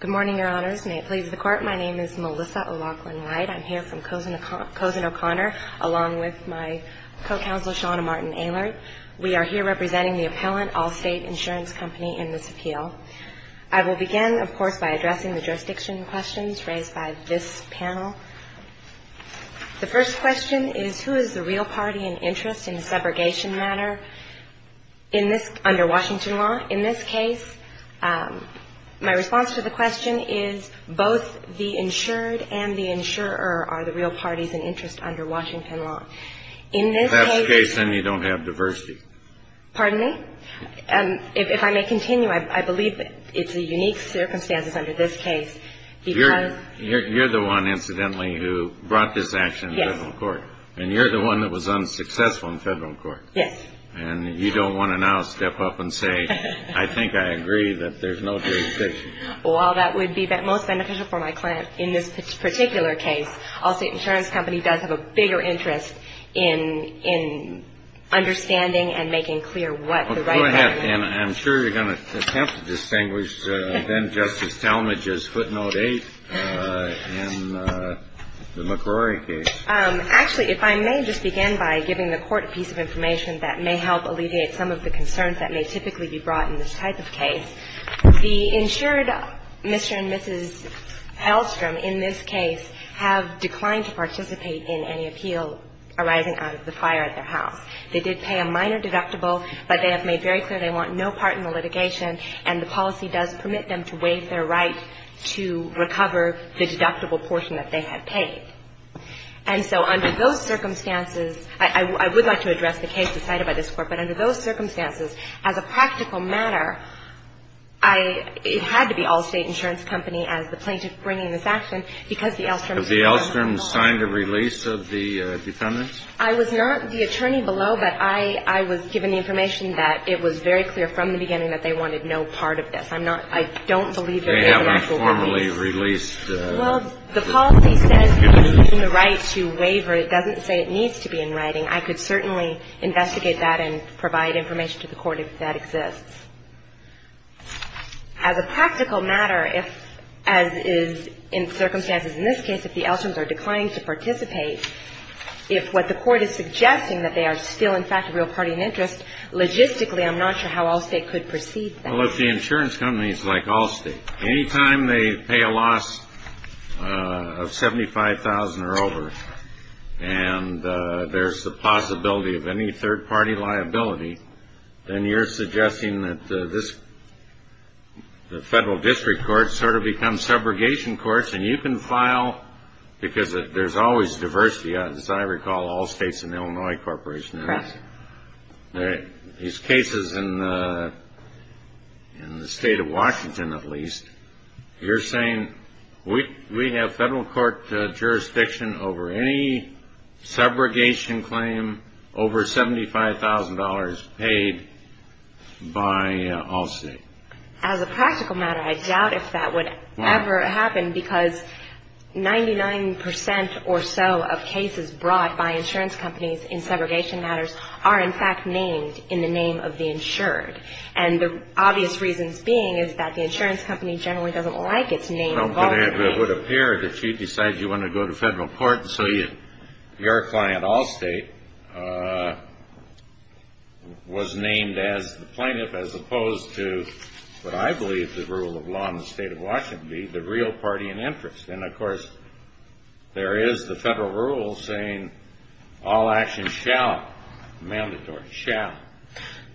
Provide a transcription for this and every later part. Good morning, Your Honors. May it please the Court, my name is Melissa O'Loughlin-Wright. I'm here from Cozen O'Connor, along with my co-counsel Shauna Martin-Aylard. We are here representing the appellant Allstate Insurance Company in this appeal. I will begin, of course, by addressing the jurisdiction questions raised by this panel. The first question is, who is the real party in interest in the segregation matter under Washington law? In this case, my response to the question is, both the insured and the insurer are the real parties in interest under Washington law. In this case... If that's the case, then you don't have diversity. Pardon me? If I may continue, I believe it's a unique circumstance under this case because... You're the one, incidentally, who brought this action to federal court. Yes. And you're the one that was unsuccessful in federal court. Yes. And you don't want to now step up and say, I think I agree that there's no jurisdiction. Well, that would be most beneficial for my client. In this particular case, Allstate Insurance Company does have a bigger interest in understanding and making clear what the right... Go ahead, and I'm sure you're going to attempt to distinguish then-Justice Talmadge's footnote 8 in the McCrory case. Actually, if I may just begin by giving the Court a piece of information that may help alleviate some of the concerns that may typically be brought in this type of case. The insured, Mr. and Mrs. Hellstrom, in this case, have declined to participate in any appeal arising out of the fire at their house. They did pay a minor deductible, but they have made very clear they want no part in the litigation, and the policy does permit them to waive their right to recover the deductible portion that they had paid. And so under those circumstances, I would like to address the case decided by this Court, but under those circumstances, as a practical matter, I – it had to be Allstate Insurance Company as the plaintiff bringing this action because the Ellstrom... Has the Ellstrom signed a release of the defendants? I was not the attorney below, but I was given the information that it was very clear from the beginning that they wanted no part of this. I'm not – I don't believe there is an actual release. They haven't formally released... Well, the policy says it's within the right to waiver. It doesn't say it needs to be in writing. I could certainly investigate that and provide information to the Court if that exists. As a practical matter, if – as is in circumstances in this case, if the Ellstroms are declining to participate, if what the Court is suggesting, that they are still, in fact, a real party in interest, logistically, I'm not sure how Allstate could perceive that. Well, if the insurance company is like Allstate, anytime they pay a loss of $75,000 or over and there's the possibility of any third-party liability, then you're suggesting that this – the federal district courts sort of become subrogation courts, and you can file – because there's always diversity, as I recall, Allstate's an Illinois corporation. Correct. These cases in the state of Washington, at least, you're saying we have federal court jurisdiction over any subrogation claim over $75,000 paid by Allstate. As a practical matter, I doubt if that would ever happen, because 99% or so of cases brought by insurance companies in subrogation matters are, in fact, named in the name of the insured. And the obvious reasons being is that the insurance company generally doesn't like its name. Well, but it would appear that you decide you want to go to federal court, and so your client, Allstate, was named as the plaintiff as opposed to what I believe the rule of law in the state of Washington would be, the real party in interest. And, of course, there is the federal rule saying all actions shall, mandatory shall,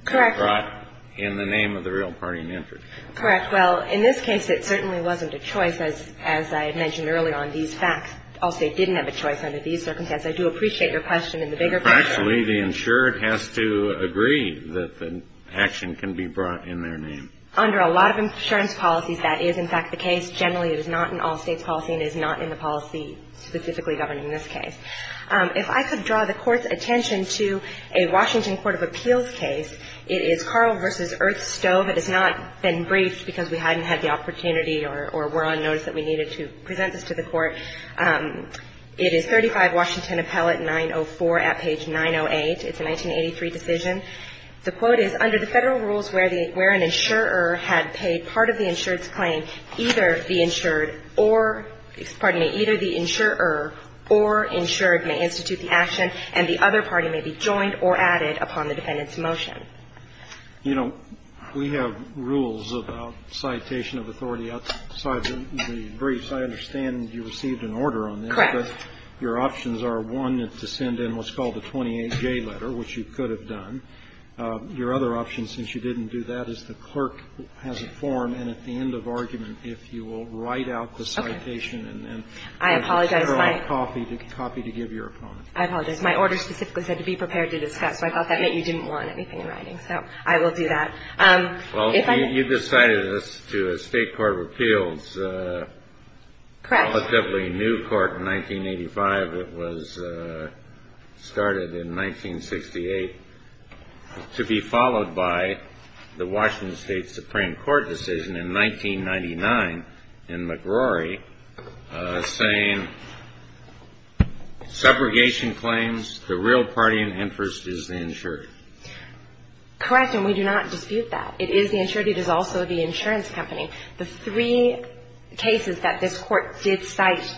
be brought in the name of the real party in interest. Correct. Well, in this case, it certainly wasn't a choice, as I had mentioned earlier on, these facts. Allstate didn't have a choice under these circumstances. I do appreciate your question in the bigger picture. Actually, the insured has to agree that the action can be brought in their name. Under a lot of insurance policies, that is, in fact, the case. Generally, it is not in Allstate's policy, and it is not in the policy specifically governing this case. If I could draw the Court's attention to a Washington Court of Appeals case, it is Carl v. Earthstove. It has not been briefed because we hadn't had the opportunity or were on notice that we needed to present this to the Court. It is 35 Washington Appellate 904 at page 908. It's a 1983 decision. The quote is, Under the Federal rules where an insurer had paid part of the insured's claim, either the insured or, pardon me, either the insurer or insured may institute the action and the other party may be joined or added upon the defendant's motion. You know, we have rules about citation of authority outside the briefs. I understand you received an order on this. Correct. Your options are, one, to send in what's called a 28-J letter, which you could have done. Your other option, since you didn't do that, is the clerk has a form, and at the end of argument, if you will, write out the citation. Okay. I apologize, Mike. And then have the Federal copy to give your opponent. I apologize. My order specifically said to be prepared to discuss, so I thought that meant you didn't want anything in writing. So I will do that. Well, you decided this to a State Court of Appeals. Correct. The relatively new court in 1985 that was started in 1968, to be followed by the Washington State Supreme Court decision in 1999 in McRory, saying, segregation claims, the real party in interest is the insured. Correct. And we do not dispute that. It is the insured. It is also the insurance company. The three cases that this Court did cite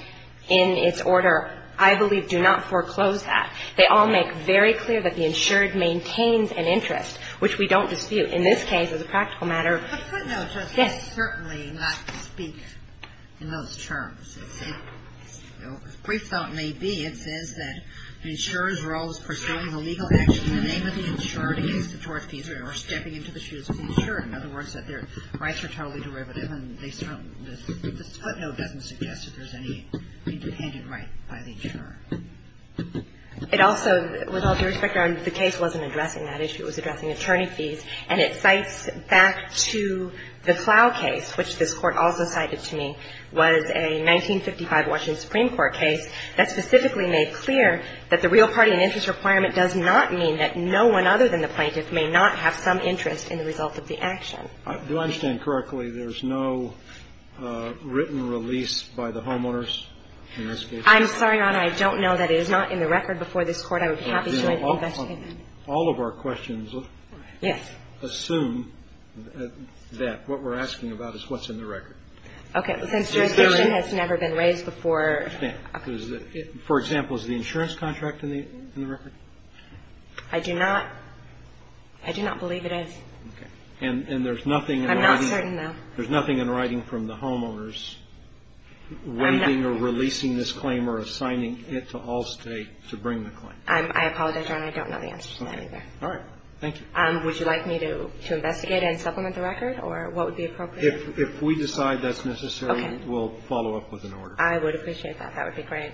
in its order, I believe, do not foreclose that. They all make very clear that the insured maintains an interest, which we don't dispute. In this case, as a practical matter, yes. But footnotes are certainly not to speak in those terms. As brief thought may be, it says that the insurer's role is pursuing the legal action in the name of the insured against the tort fees or stepping into the shoes of the insured. In other words, that their rights are totally derivative. And this footnote doesn't suggest that there's any independent right by the insurer. It also, with all due respect, the case wasn't addressing that issue. It was addressing attorney fees. And it cites back to the Plough case, which this Court also cited to me, was a 1955 Washington Supreme Court case that specifically made clear that the real party in interest requirement does not mean that no one other than the plaintiff may not have some interest in the result of the action. Do I understand correctly there's no written release by the homeowners in this case? I'm sorry, Your Honor. I don't know that it is not in the record before this Court. I would be happy to investigate that. All of our questions assume that what we're asking about is what's in the record. Okay. Since jurisdiction has never been raised before. I understand. But what we're asking about is, for example, is the insurance contract in the record? I do not believe it is. Okay. And there's nothing in writing? I'm not certain, no. There's nothing in writing from the homeowners waiting or releasing this claim or assigning it to Allstate to bring the claim? I apologize, Your Honor. I don't know the answer to that either. All right. Thank you. Would you like me to investigate and supplement the record, or what would be appropriate? If we decide that's necessary, we'll follow up with an order. I would appreciate that. That would be great.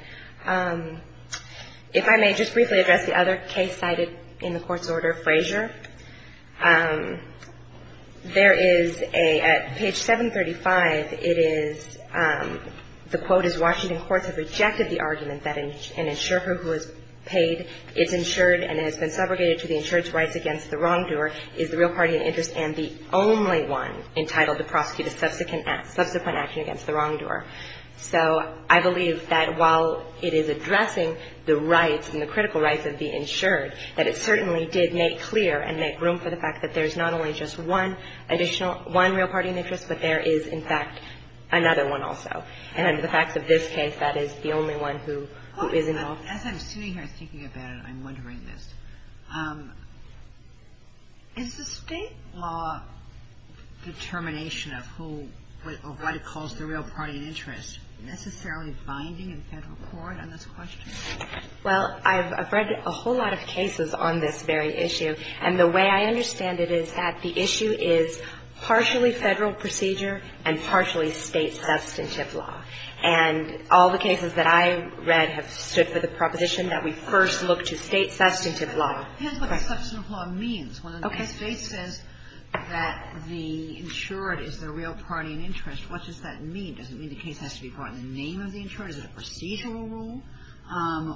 If I may just briefly address the other case cited in the Court's order, Frazier. There is a, at page 735, it is, the quote is, Washington courts have rejected the argument that an insurer who has paid, is insured and has been segregated to the insured's rights against the wrongdoer, is the real party in interest and the only one entitled to prosecute a subsequent action against the wrongdoer. So I believe that while it is addressing the rights and the critical rights of the insured, that it certainly did make clear and make room for the fact that there's not only just one additional, one real party in interest, but there is, in fact, another one also. And under the facts of this case, that is the only one who is involved. As I'm sitting here thinking about it, I'm wondering this. Is the State law determination of who or what it calls the real party in interest necessarily binding in Federal court on this question? Well, I've read a whole lot of cases on this very issue. And the way I understand it is that the issue is partially Federal procedure and partially State substantive law. And all the cases that I've read have stood for the proposition that we first look to State substantive law. It depends what the substantive law means. When the State says that the insured is the real party in interest, what does that mean? Does it mean the case has to be brought in the name of the insured? Is it a procedural rule?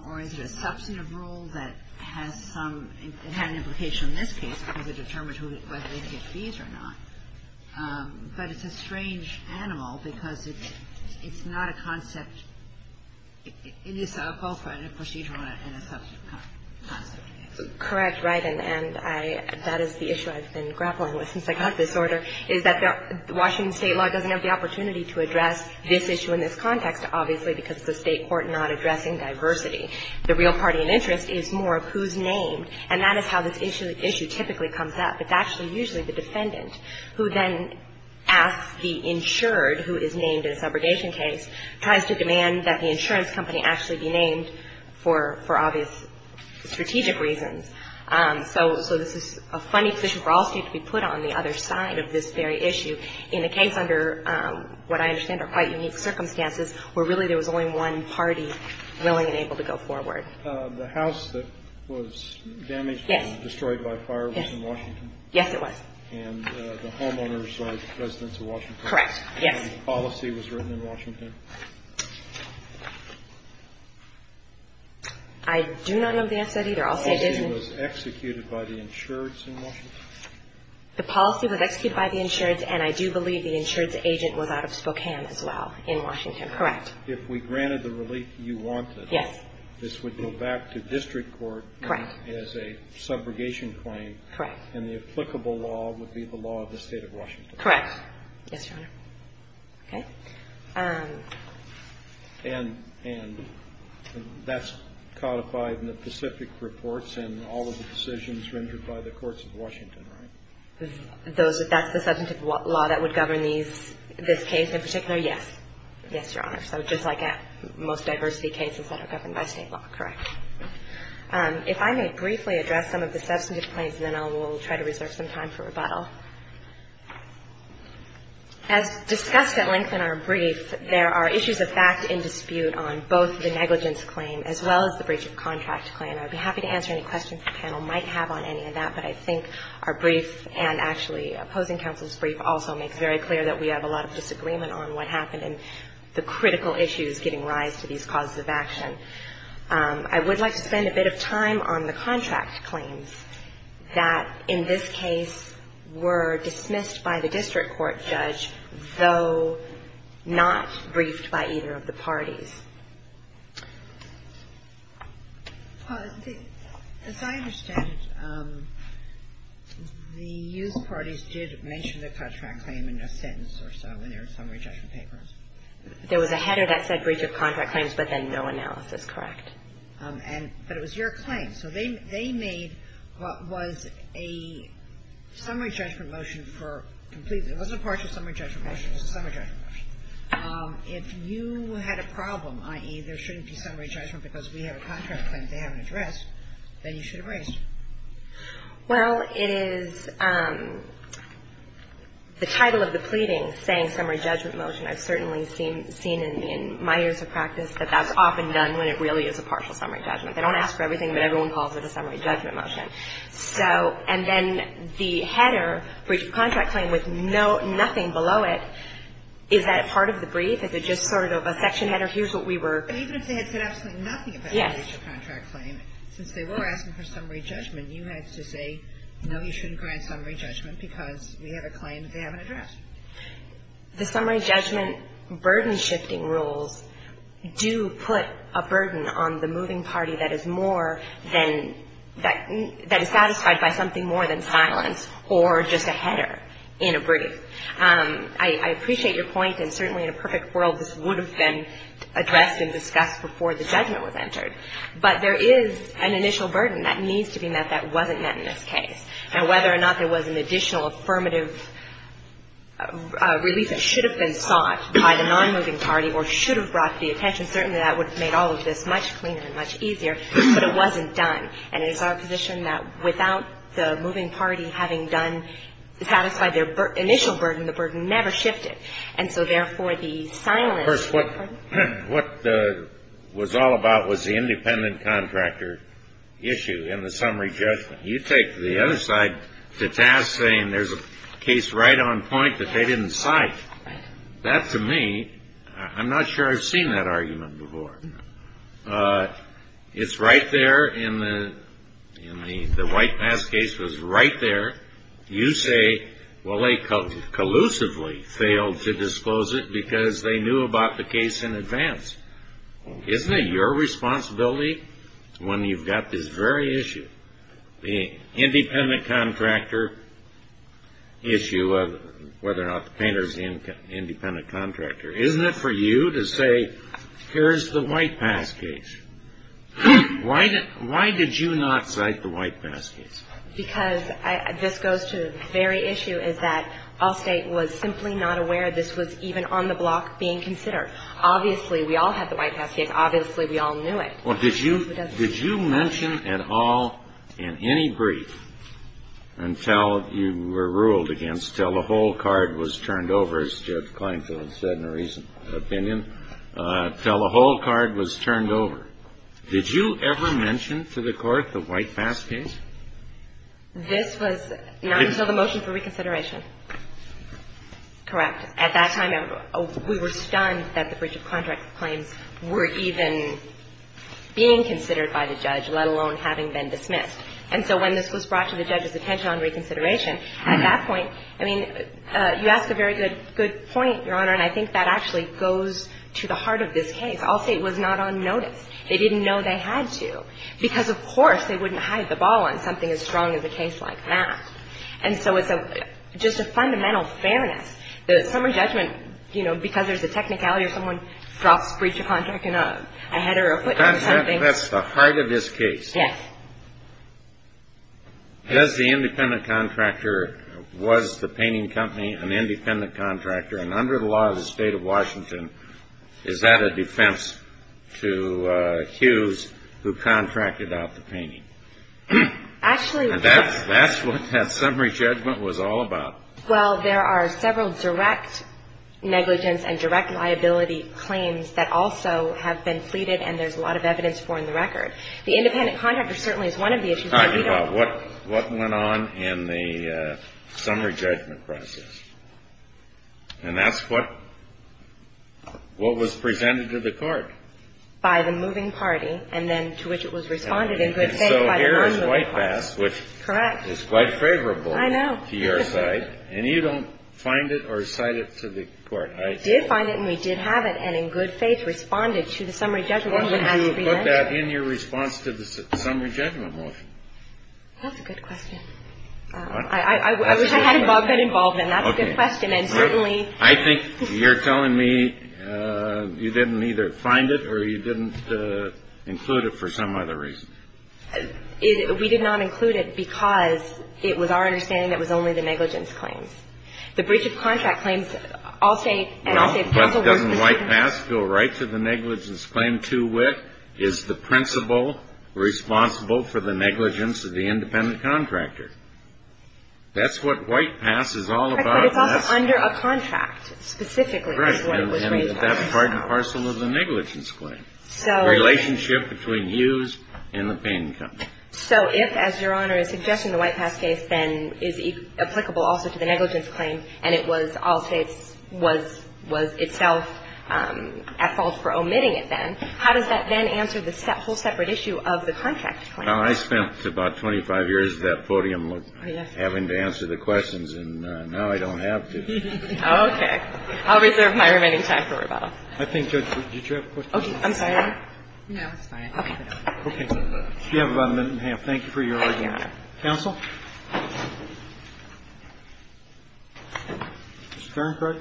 Or is it a substantive rule that has some – it had an implication in this case because it determines whether they get fees or not. But it's a strange animal because it's not a concept. It is both a procedural and a substantive concept. Correct. Right. And I – that is the issue I've been grappling with since I got this order, is that Washington State law doesn't have the opportunity to address this issue in this context, obviously, because it's a State court not addressing diversity. The real party in interest is more of who's named. And that is how this issue typically comes up. It's actually usually the defendant who then asks the insured who is named in a subrogation case, tries to demand that the insurance company actually be named for obvious strategic reasons. So this is a funny position for all State to be put on the other side of this very issue in a case under what I understand are quite unique circumstances where really there was only one party willing and able to go forward. The house that was damaged and destroyed by fire was in Washington? Yes, it was. And the homeowners are residents of Washington? Correct, yes. And the policy was written in Washington? I do not know the answer to that either. I'll say it is. The policy was executed by the insureds in Washington? The policy was executed by the insureds, and I do believe the insureds agent was out of Spokane as well, in Washington. Correct. If we granted the relief you wanted, this would go back to district court as a subrogation claim, and the applicable law would be the law of the State of Washington. Correct. Yes, Your Honor. Okay. And that's codified in the Pacific reports and all of the decisions rendered by the courts of Washington, right? That's the substantive law that would govern this case in particular? Yes. Yes, Your Honor. So just like most diversity cases that are governed by State law. Correct. If I may briefly address some of the substantive claims, and then I will try to reserve some time for rebuttal. As discussed at length in our brief, there are issues of fact in dispute on both the negligence claim as well as the breach of contract claim. I would be happy to answer any questions the panel might have on any of that, but I think our brief and actually opposing counsel's brief also makes very clear that we have a lot of disagreement on what happened and the critical issues giving rise to these causes of action. I would like to spend a bit of time on the contract claims that, in this case, were dismissed by the district court judge, though not briefed by either of the parties. As I understand it, the youth parties did mention the contract claim in a sentence or so in their summary judgment papers. There was a header that said breach of contract claims, but then no analysis. Correct. But it was your claim. So they made what was a summary judgment motion for completely — it wasn't a partial summary judgment motion. It was a summary judgment motion. If you had a problem, i.e., there shouldn't be summary judgment because we have a contract claim they haven't addressed, then you should have raised it. Well, it is the title of the pleading saying summary judgment motion. I've certainly seen in my years of practice that that's often done when it really is a partial summary judgment. They don't ask for everything, but everyone calls it a summary judgment motion. So — and then the header, breach of contract claim, with nothing below it, is that part of the brief? Is it just sort of a section header? Here's what we were — Even if they had said absolutely nothing about the breach of contract claim, since they were asking for summary judgment, you had to say, no, you shouldn't grant summary judgment because we have a claim that they haven't addressed. The summary judgment burden-shifting rules do put a burden on the moving party that is more than — that is satisfied by something more than silence or just a header in a brief. I appreciate your point, and certainly in a perfect world, this would have been addressed and discussed before the judgment was entered. But there is an initial burden that needs to be met that wasn't met in this case. Now, whether or not there was an additional affirmative relief that should have been sought by the nonmoving party or should have brought the attention, certainly that would have made all of this much cleaner and much easier, but it wasn't done. And it is our position that without the moving party having done — satisfied their initial burden, the burden never shifted. And so, therefore, the silence — First, what — what was all about was the independent contractor issue in the summary judgment. Now, you take the other side to task, saying there's a case right on point that they didn't cite. That, to me — I'm not sure I've seen that argument before. It's right there in the — in the — the White Mass case was right there. You say, well, they collusively failed to disclose it because they knew about the case in advance. Well, isn't it your responsibility, when you've got this very issue, the independent contractor issue of whether or not the painter's an independent contractor, isn't it for you to say, here's the White Mass case? Why did — why did you not cite the White Mass case? Because I — this goes to the very issue, is that Allstate was simply not aware this was even on the block being considered. Obviously, we all had the White Mass case. Obviously, we all knew it. Well, did you — did you mention at all, in any brief, until you were ruled against, until the whole card was turned over, as Judge Kleinfeld said in a recent opinion, until the whole card was turned over, did you ever mention to the Court the White Mass case? This was not until the motion for reconsideration. Correct. At that time, we were stunned that the breach of contract claims were even being considered by the judge, let alone having been dismissed. And so when this was brought to the judge's attention on reconsideration, at that point, I mean, you ask a very good point, Your Honor, and I think that actually goes to the heart of this case. Allstate was not on notice. They didn't know they had to because, of course, they wouldn't hide the ball on something as strong as a case like that. And so it's a — just a fundamental fairness. The summary judgment, you know, because there's a technicality or someone brought a breach of contract in a header or a footnote or something — That's the heart of this case. Yes. Does the independent contractor — was the painting company an independent contractor? And under the law of the State of Washington, is that a defense to Hughes, who contracted out the painting? Actually, yes. And that's what that summary judgment was all about. Well, there are several direct negligence and direct liability claims that also have been pleaded, and there's a lot of evidence for in the record. The independent contractor certainly is one of the issues. All right. What went on in the summary judgment process? And that's what was presented to the court. By the moving party, and then to which it was responded in good faith by the non-moving party. Well, there was a motion that was passed, which is quite favorable to your side. And you don't find it or cite it to the court. I did find it, and we did have it, and in good faith responded to the summary judgment. Why didn't you put that in your response to the summary judgment motion? That's a good question. I wish I had been involved in that. That's a good question. And certainly — I think you're telling me you didn't either find it or you didn't include it for some other reason. We did not include it because it was our understanding that it was only the negligence claims. The breach of contract claims, all state, and all state — No, but doesn't White Pass go right to the negligence claim too, which is the principal responsible for the negligence of the independent contractor? That's what White Pass is all about. Correct, but it's also under a contract, specifically, is what was raised. Correct. And that's part and parcel of the negligence claim. So — So if, as Your Honor is suggesting, the White Pass case then is applicable also to the negligence claim, and it was all states — was — was itself at fault for omitting it then, how does that then answer the whole separate issue of the contract claim? I spent about 25 years at that podium having to answer the questions, and now I don't have to. Okay. I'll reserve my remaining time for rebuttal. I think, Judge, did you have a question? I'm sorry. No, it's fine. Okay. We have about a minute and a half. Thank you for your argument. Mr. Farenkrug?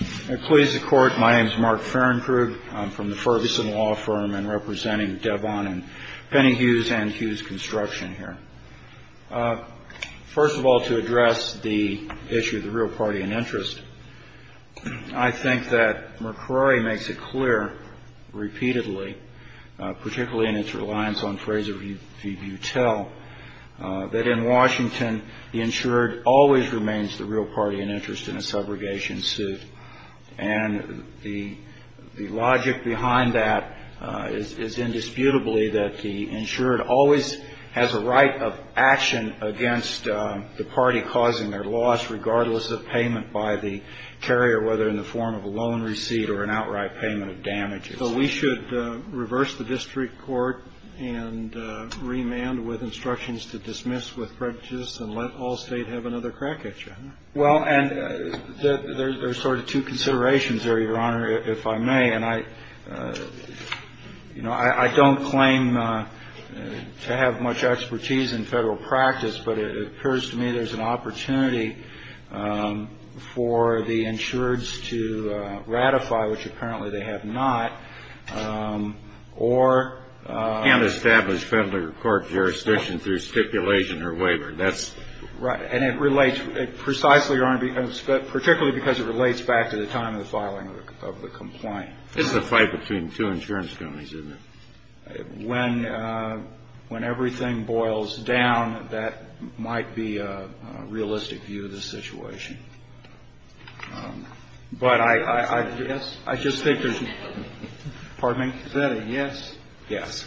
Yes. Employees of the Court, my name is Mark Farenkrug. I'm from the Ferguson Law Firm and representing Devon and Penny Hughes and Hughes Construction here. First of all, to address the issue of the real party in interest, I think that McCrory makes it clear repeatedly, particularly in its reliance on Fraser v. Butell, that in Washington, the insured always remains the real party in interest in a subrogation suit, and the — the logic behind that is indisputably that the insured always has a right of action against the party causing their loss, regardless of payment by the carrier, whether in the form of a loan receipt or an outright payment of damages. So we should reverse the district court and remand with instructions to dismiss with prejudice and let all State have another crack at you, huh? Well, and there's sort of two considerations there, Your Honor, if I may. And I — you know, I don't claim to have much expertise in Federal practice, but it appears to me there's an opportunity for the insureds to ratify, which apparently they have not, or — You can't establish Federal court jurisdiction through stipulation or waiver. That's — Right. And it relates — precisely, Your Honor, particularly because it relates back to the filing of the complaint. It's a fight between two insurance companies, isn't it? When — when everything boils down, that might be a realistic view of the situation. But I — Yes? I just think there's — pardon me? Is that a yes? Yes.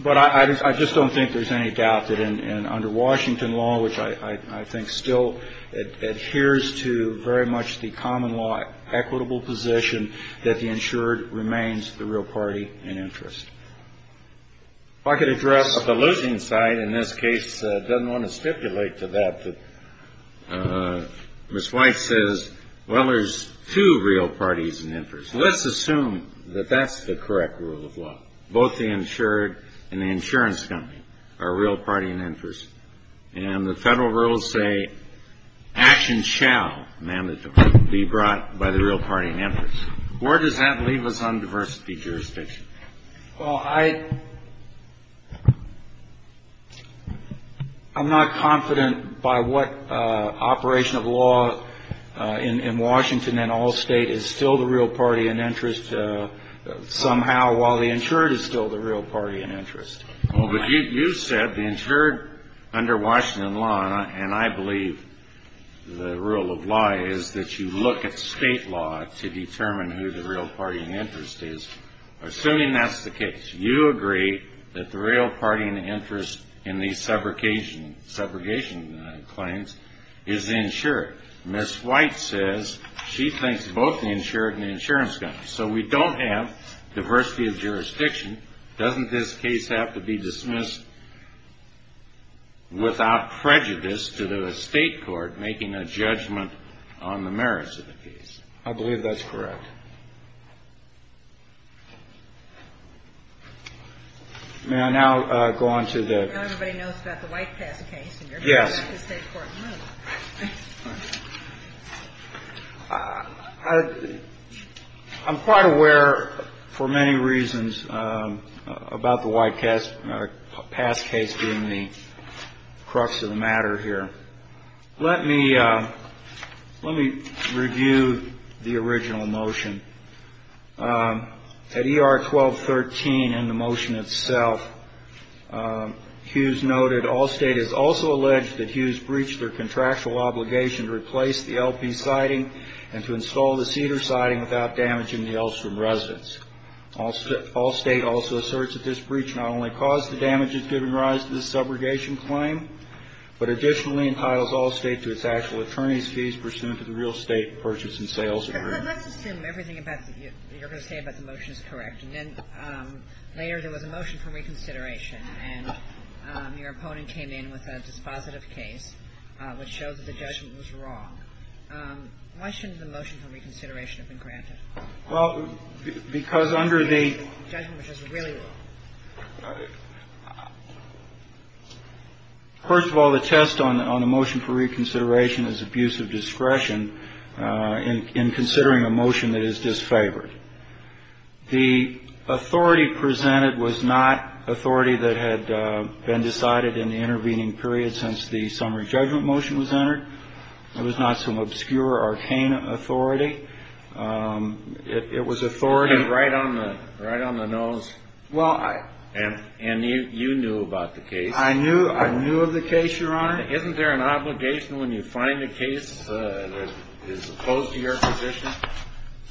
But I just don't think there's any doubt that in — under Washington law, which I think still adheres to very much the common law equitable position, that the insured remains the real party in interest. If I could address the losing side in this case, doesn't want to stipulate to that, but Ms. White says, well, there's two real parties in interest. Let's assume that that's the correct rule of law. Both the insured and the insurance company are real party in interest. And the federal rules say actions shall, ma'am, be brought by the real party in interest. Where does that leave us on diversity jurisdiction? Well, I — I'm not confident by what operation of law in Washington and all state is still the real party in interest somehow, while the insured is still the real party in interest. Well, but you said the insured under Washington law, and I believe the rule of law is that you look at state law to determine who the real party in interest is. Assuming that's the case, you agree that the real party in interest in these subrogation claims is the insured. Ms. White says she thinks both the insured and the insurance company. So we don't have diversity of jurisdiction. Doesn't this case have to be dismissed without prejudice to the state court making a judgment on the merits of the case? I believe that's correct. May I now go on to the — Now everybody knows about the White Pass case, and you're going to let the state court move. Yes. I'm quite aware, for many reasons, about the White Pass case being the crux of the matter here. Let me — let me review the original motion. At ER 1213 in the motion itself, Hughes noted, All State is also alleged that Hughes breached their contractual obligation to replace the LP siding and to install the Cedar siding without damaging the Elstrom residence. All State also asserts that this breach not only caused the damages given rise to this subrogation claim, but additionally entitles All State to its actual attorney's fees pursuant to the real estate purchase and sales agreement. Let's assume everything you're going to say about the motion is correct. And then later there was a motion for reconsideration, and your opponent came in with a dispositive case which showed that the judgment was wrong. Why shouldn't the motion for reconsideration have been granted? Well, because under the — The judgment was really wrong. First of all, the test on the motion for reconsideration is abuse of discretion in considering a motion that is disfavored. The authority presented was not authority that had been decided in the intervening period since the summary judgment motion was entered. It was not some obscure, arcane authority. It was authority — Right on the nose. Well, I — And you knew about the case. I knew of the case, Your Honor. Isn't there an obligation when you find a case that is opposed to your position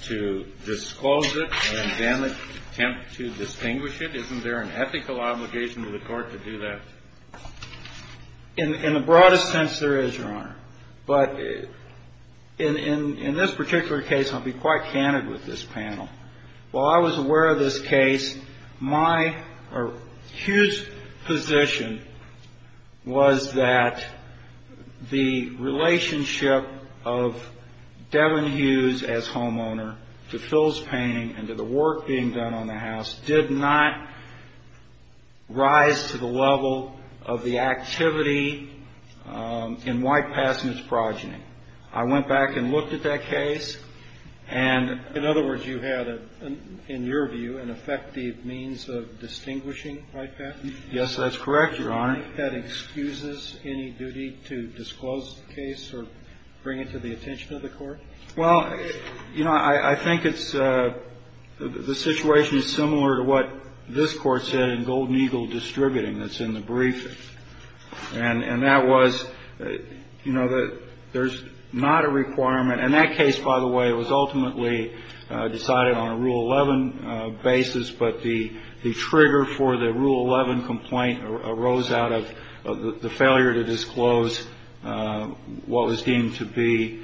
to disclose it and then attempt to distinguish it? Isn't there an ethical obligation to the Court to do that? In the broadest sense, there is, Your Honor. But in this particular case, I'll be quite candid with this panel. While I was aware of this case, my — or Hughes' position was that the relationship of Devin Hughes as homeowner to Phil's painting and to the work being done on the house did not rise to the level of the activity in White Passman's progeny. I went back and looked at that case, and — And I found that, in your view, an effective means of distinguishing White Passman. Yes, that's correct, Your Honor. Do you think that excuses any duty to disclose the case or bring it to the attention of the Court? Well, you know, I think it's — the situation is similar to what this Court said in Golden Eagle Distributing that's in the briefing. And that was, you know, that there's not a requirement — and that case, by the way, was ultimately decided on a Rule 11 basis, but the trigger for the Rule 11 complaint arose out of the failure to disclose what was deemed to be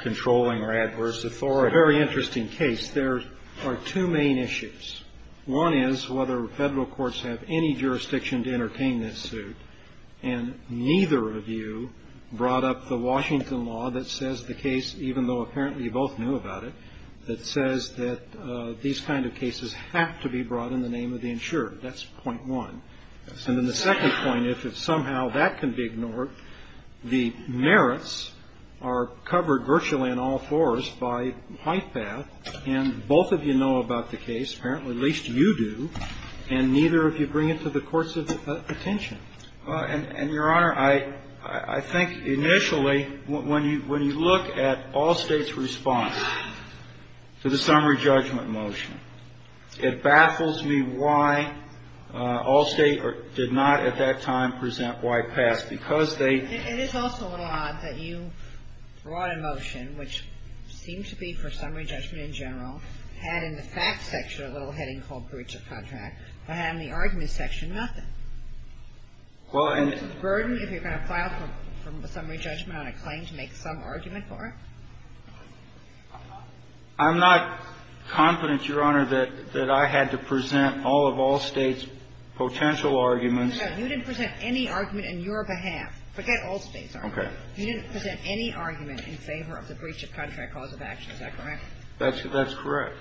controlling or adverse authority. It's a very interesting case. There are two main issues. One is whether Federal courts have any jurisdiction to entertain this suit. And neither of you brought up the Washington law that says the case, even though apparently you both knew about it, that says that these kind of cases have to be brought in the name of the insurer. That's point one. And then the second point is if somehow that can be ignored, the merits are covered virtually on all fours by White Path. And both of you know about the case. Apparently, at least you do. And neither of you bring it to the courts' attention. Well, and, Your Honor, I think initially, when you look at all States' response to the summary judgment motion, it baffles me why all States did not at that time present White Path, because they — It is also a little odd that you brought a motion which seemed to be for summary judgment in general, had in the facts section a little heading called breach of contract, but had in the argument section nothing. Well, and — Is it a burden if you're going to file for summary judgment on a claim to make some argument for it? I'm not confident, Your Honor, that I had to present all of all States' potential arguments. No, you didn't present any argument on your behalf. Forget all States' arguments. Okay. You didn't present any argument in favor of the breach of contract cause of action. Is that correct? That's correct.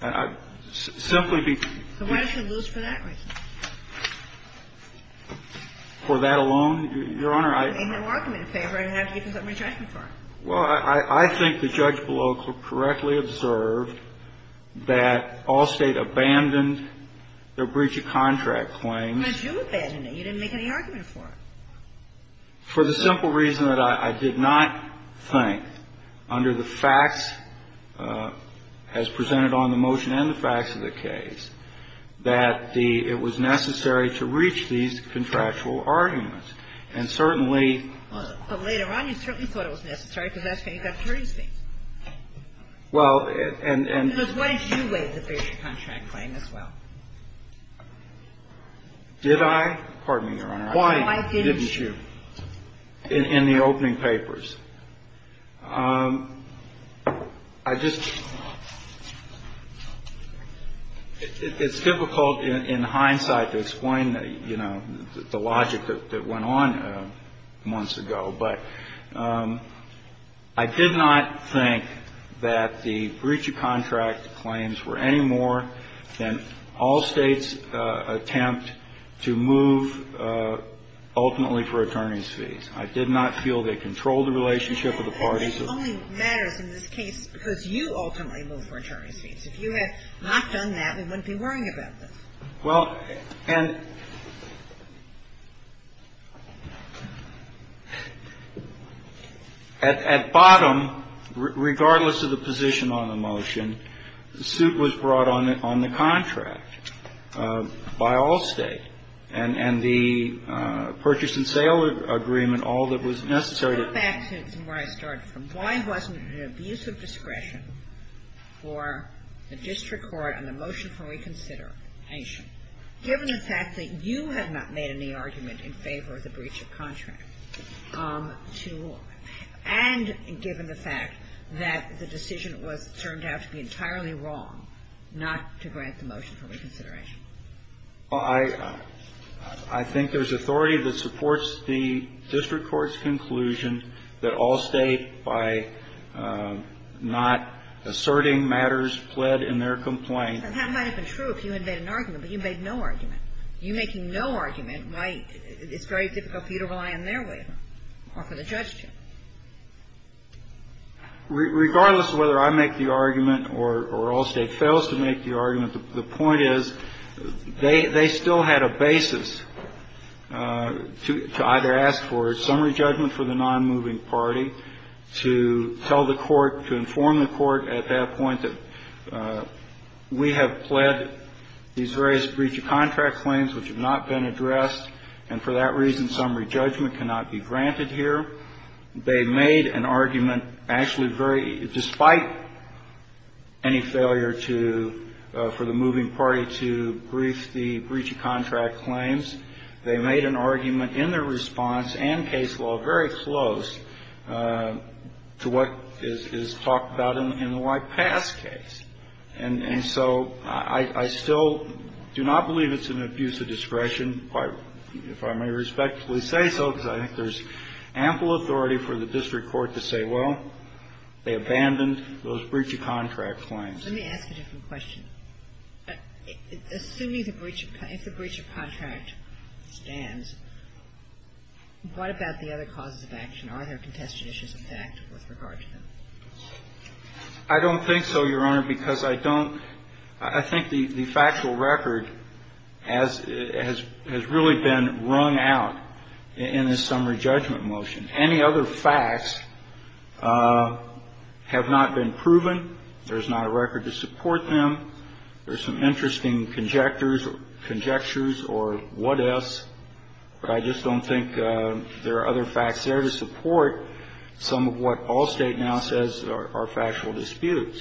And I'd simply be — So why did you lose for that reason? For that alone, Your Honor, I — You made no argument in favor. I didn't have to give you summary judgment for it. Well, I think the judge below correctly observed that all States abandoned their breach of contract claims. But you abandoned it. You didn't make any argument for it. For the simple reason that I did not think, under the facts as presented on the motion and the facts of the case, that the — it was necessary to reach these contractual arguments. And certainly — But later on, you certainly thought it was necessary, because that's why you got 30 States. Well, and — Because why did you waive the breach of contract claim as well? Did I? Pardon me, Your Honor. No, I didn't. Why didn't you in the opening papers? I just — it's difficult in hindsight to explain, you know, the logic that went on months ago. But I did not think that the breach of contract claims were any more than all States' attempt to move ultimately for attorneys' fees. I did not feel they controlled the relationship of the parties. It only matters in this case because you ultimately moved for attorneys' fees. If you had not done that, we wouldn't be worrying about this. Well, and at bottom, regardless of the position on the motion, the suit was brought on the contract. By all States. And the purchase and sale agreement, all that was necessary to — Let's go back to where I started from. Why wasn't it an abuse of discretion for the district court on the motion for reconsideration, given the fact that you had not made any argument in favor of the breach of contract to law, and given the fact that the decision was — turned out to be entirely wrong not to grant the motion for reconsideration? Well, I — I think there's authority that supports the district court's conclusion that all State, by not asserting matters pled in their complaint — That might have been true if you had made an argument, but you made no argument. You making no argument might — it's very difficult for you to rely on their waiver or for the judge to. Regardless of whether I make the argument or all State fails to make the argument, the point is they — they still had a basis to either ask for summary judgment for the nonmoving party, to tell the court, to inform the court at that point that we have pled these various breach of contract claims which have not been addressed, and for that reason, summary judgment cannot be granted here. They made an argument actually very — despite any failure to — for the moving party to brief the breach of contract claims, they made an argument in their response and case law very close to what is talked about in the White Pass case. And so I — I still do not believe it's an abuse of discretion, if I may respectfully say so, because I think there's ample authority for the district court to say, well, they abandoned those breach of contract claims. Let me ask a different question. Assuming the breach of — if the breach of contract stands, what about the other causes of action? Are there contested issues of fact with regard to them? I don't think so, Your Honor, because I don't — I think the factual record has really been wrung out in this summary judgment motion. Any other facts have not been proven. There's not a record to support them. There's some interesting conjectures or what-ifs, but I just don't think there are other facts to support some of what Allstate now says are factual disputes.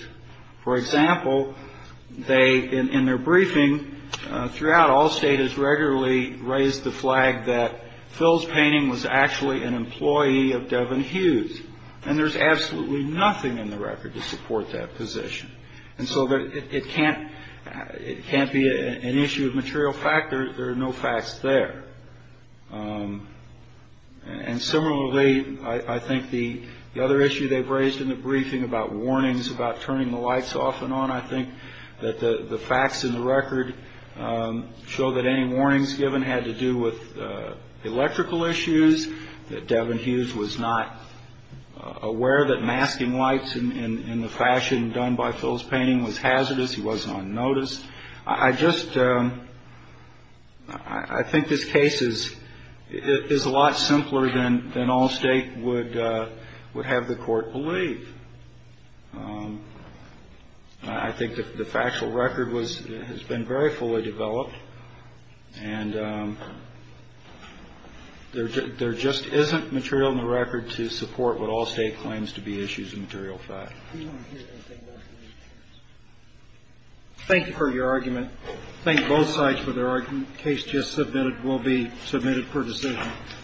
For example, they — in their briefing throughout, Allstate has regularly raised the flag that Phil's painting was actually an employee of Devin Hughes. And there's absolutely nothing in the record to support that position. And so it can't — it can't be an issue of material fact. There are no facts there. And similarly, I think the other issue they've raised in the briefing about warnings, about turning the lights off and on, I think that the facts in the record show that any warnings given had to do with electrical issues, that Devin Hughes was not aware that masking lights in the fashion done by Phil's painting was hazardous, he wasn't on notice. I just — I think this case is a lot simpler than Allstate would have the Court believe. I think the factual record was — has been very fully developed, and there just isn't material in the record to support what Allstate claims to be issues of material fact. Thank you for your argument. Thank both sides for their argument. The case just submitted will be submitted for decision.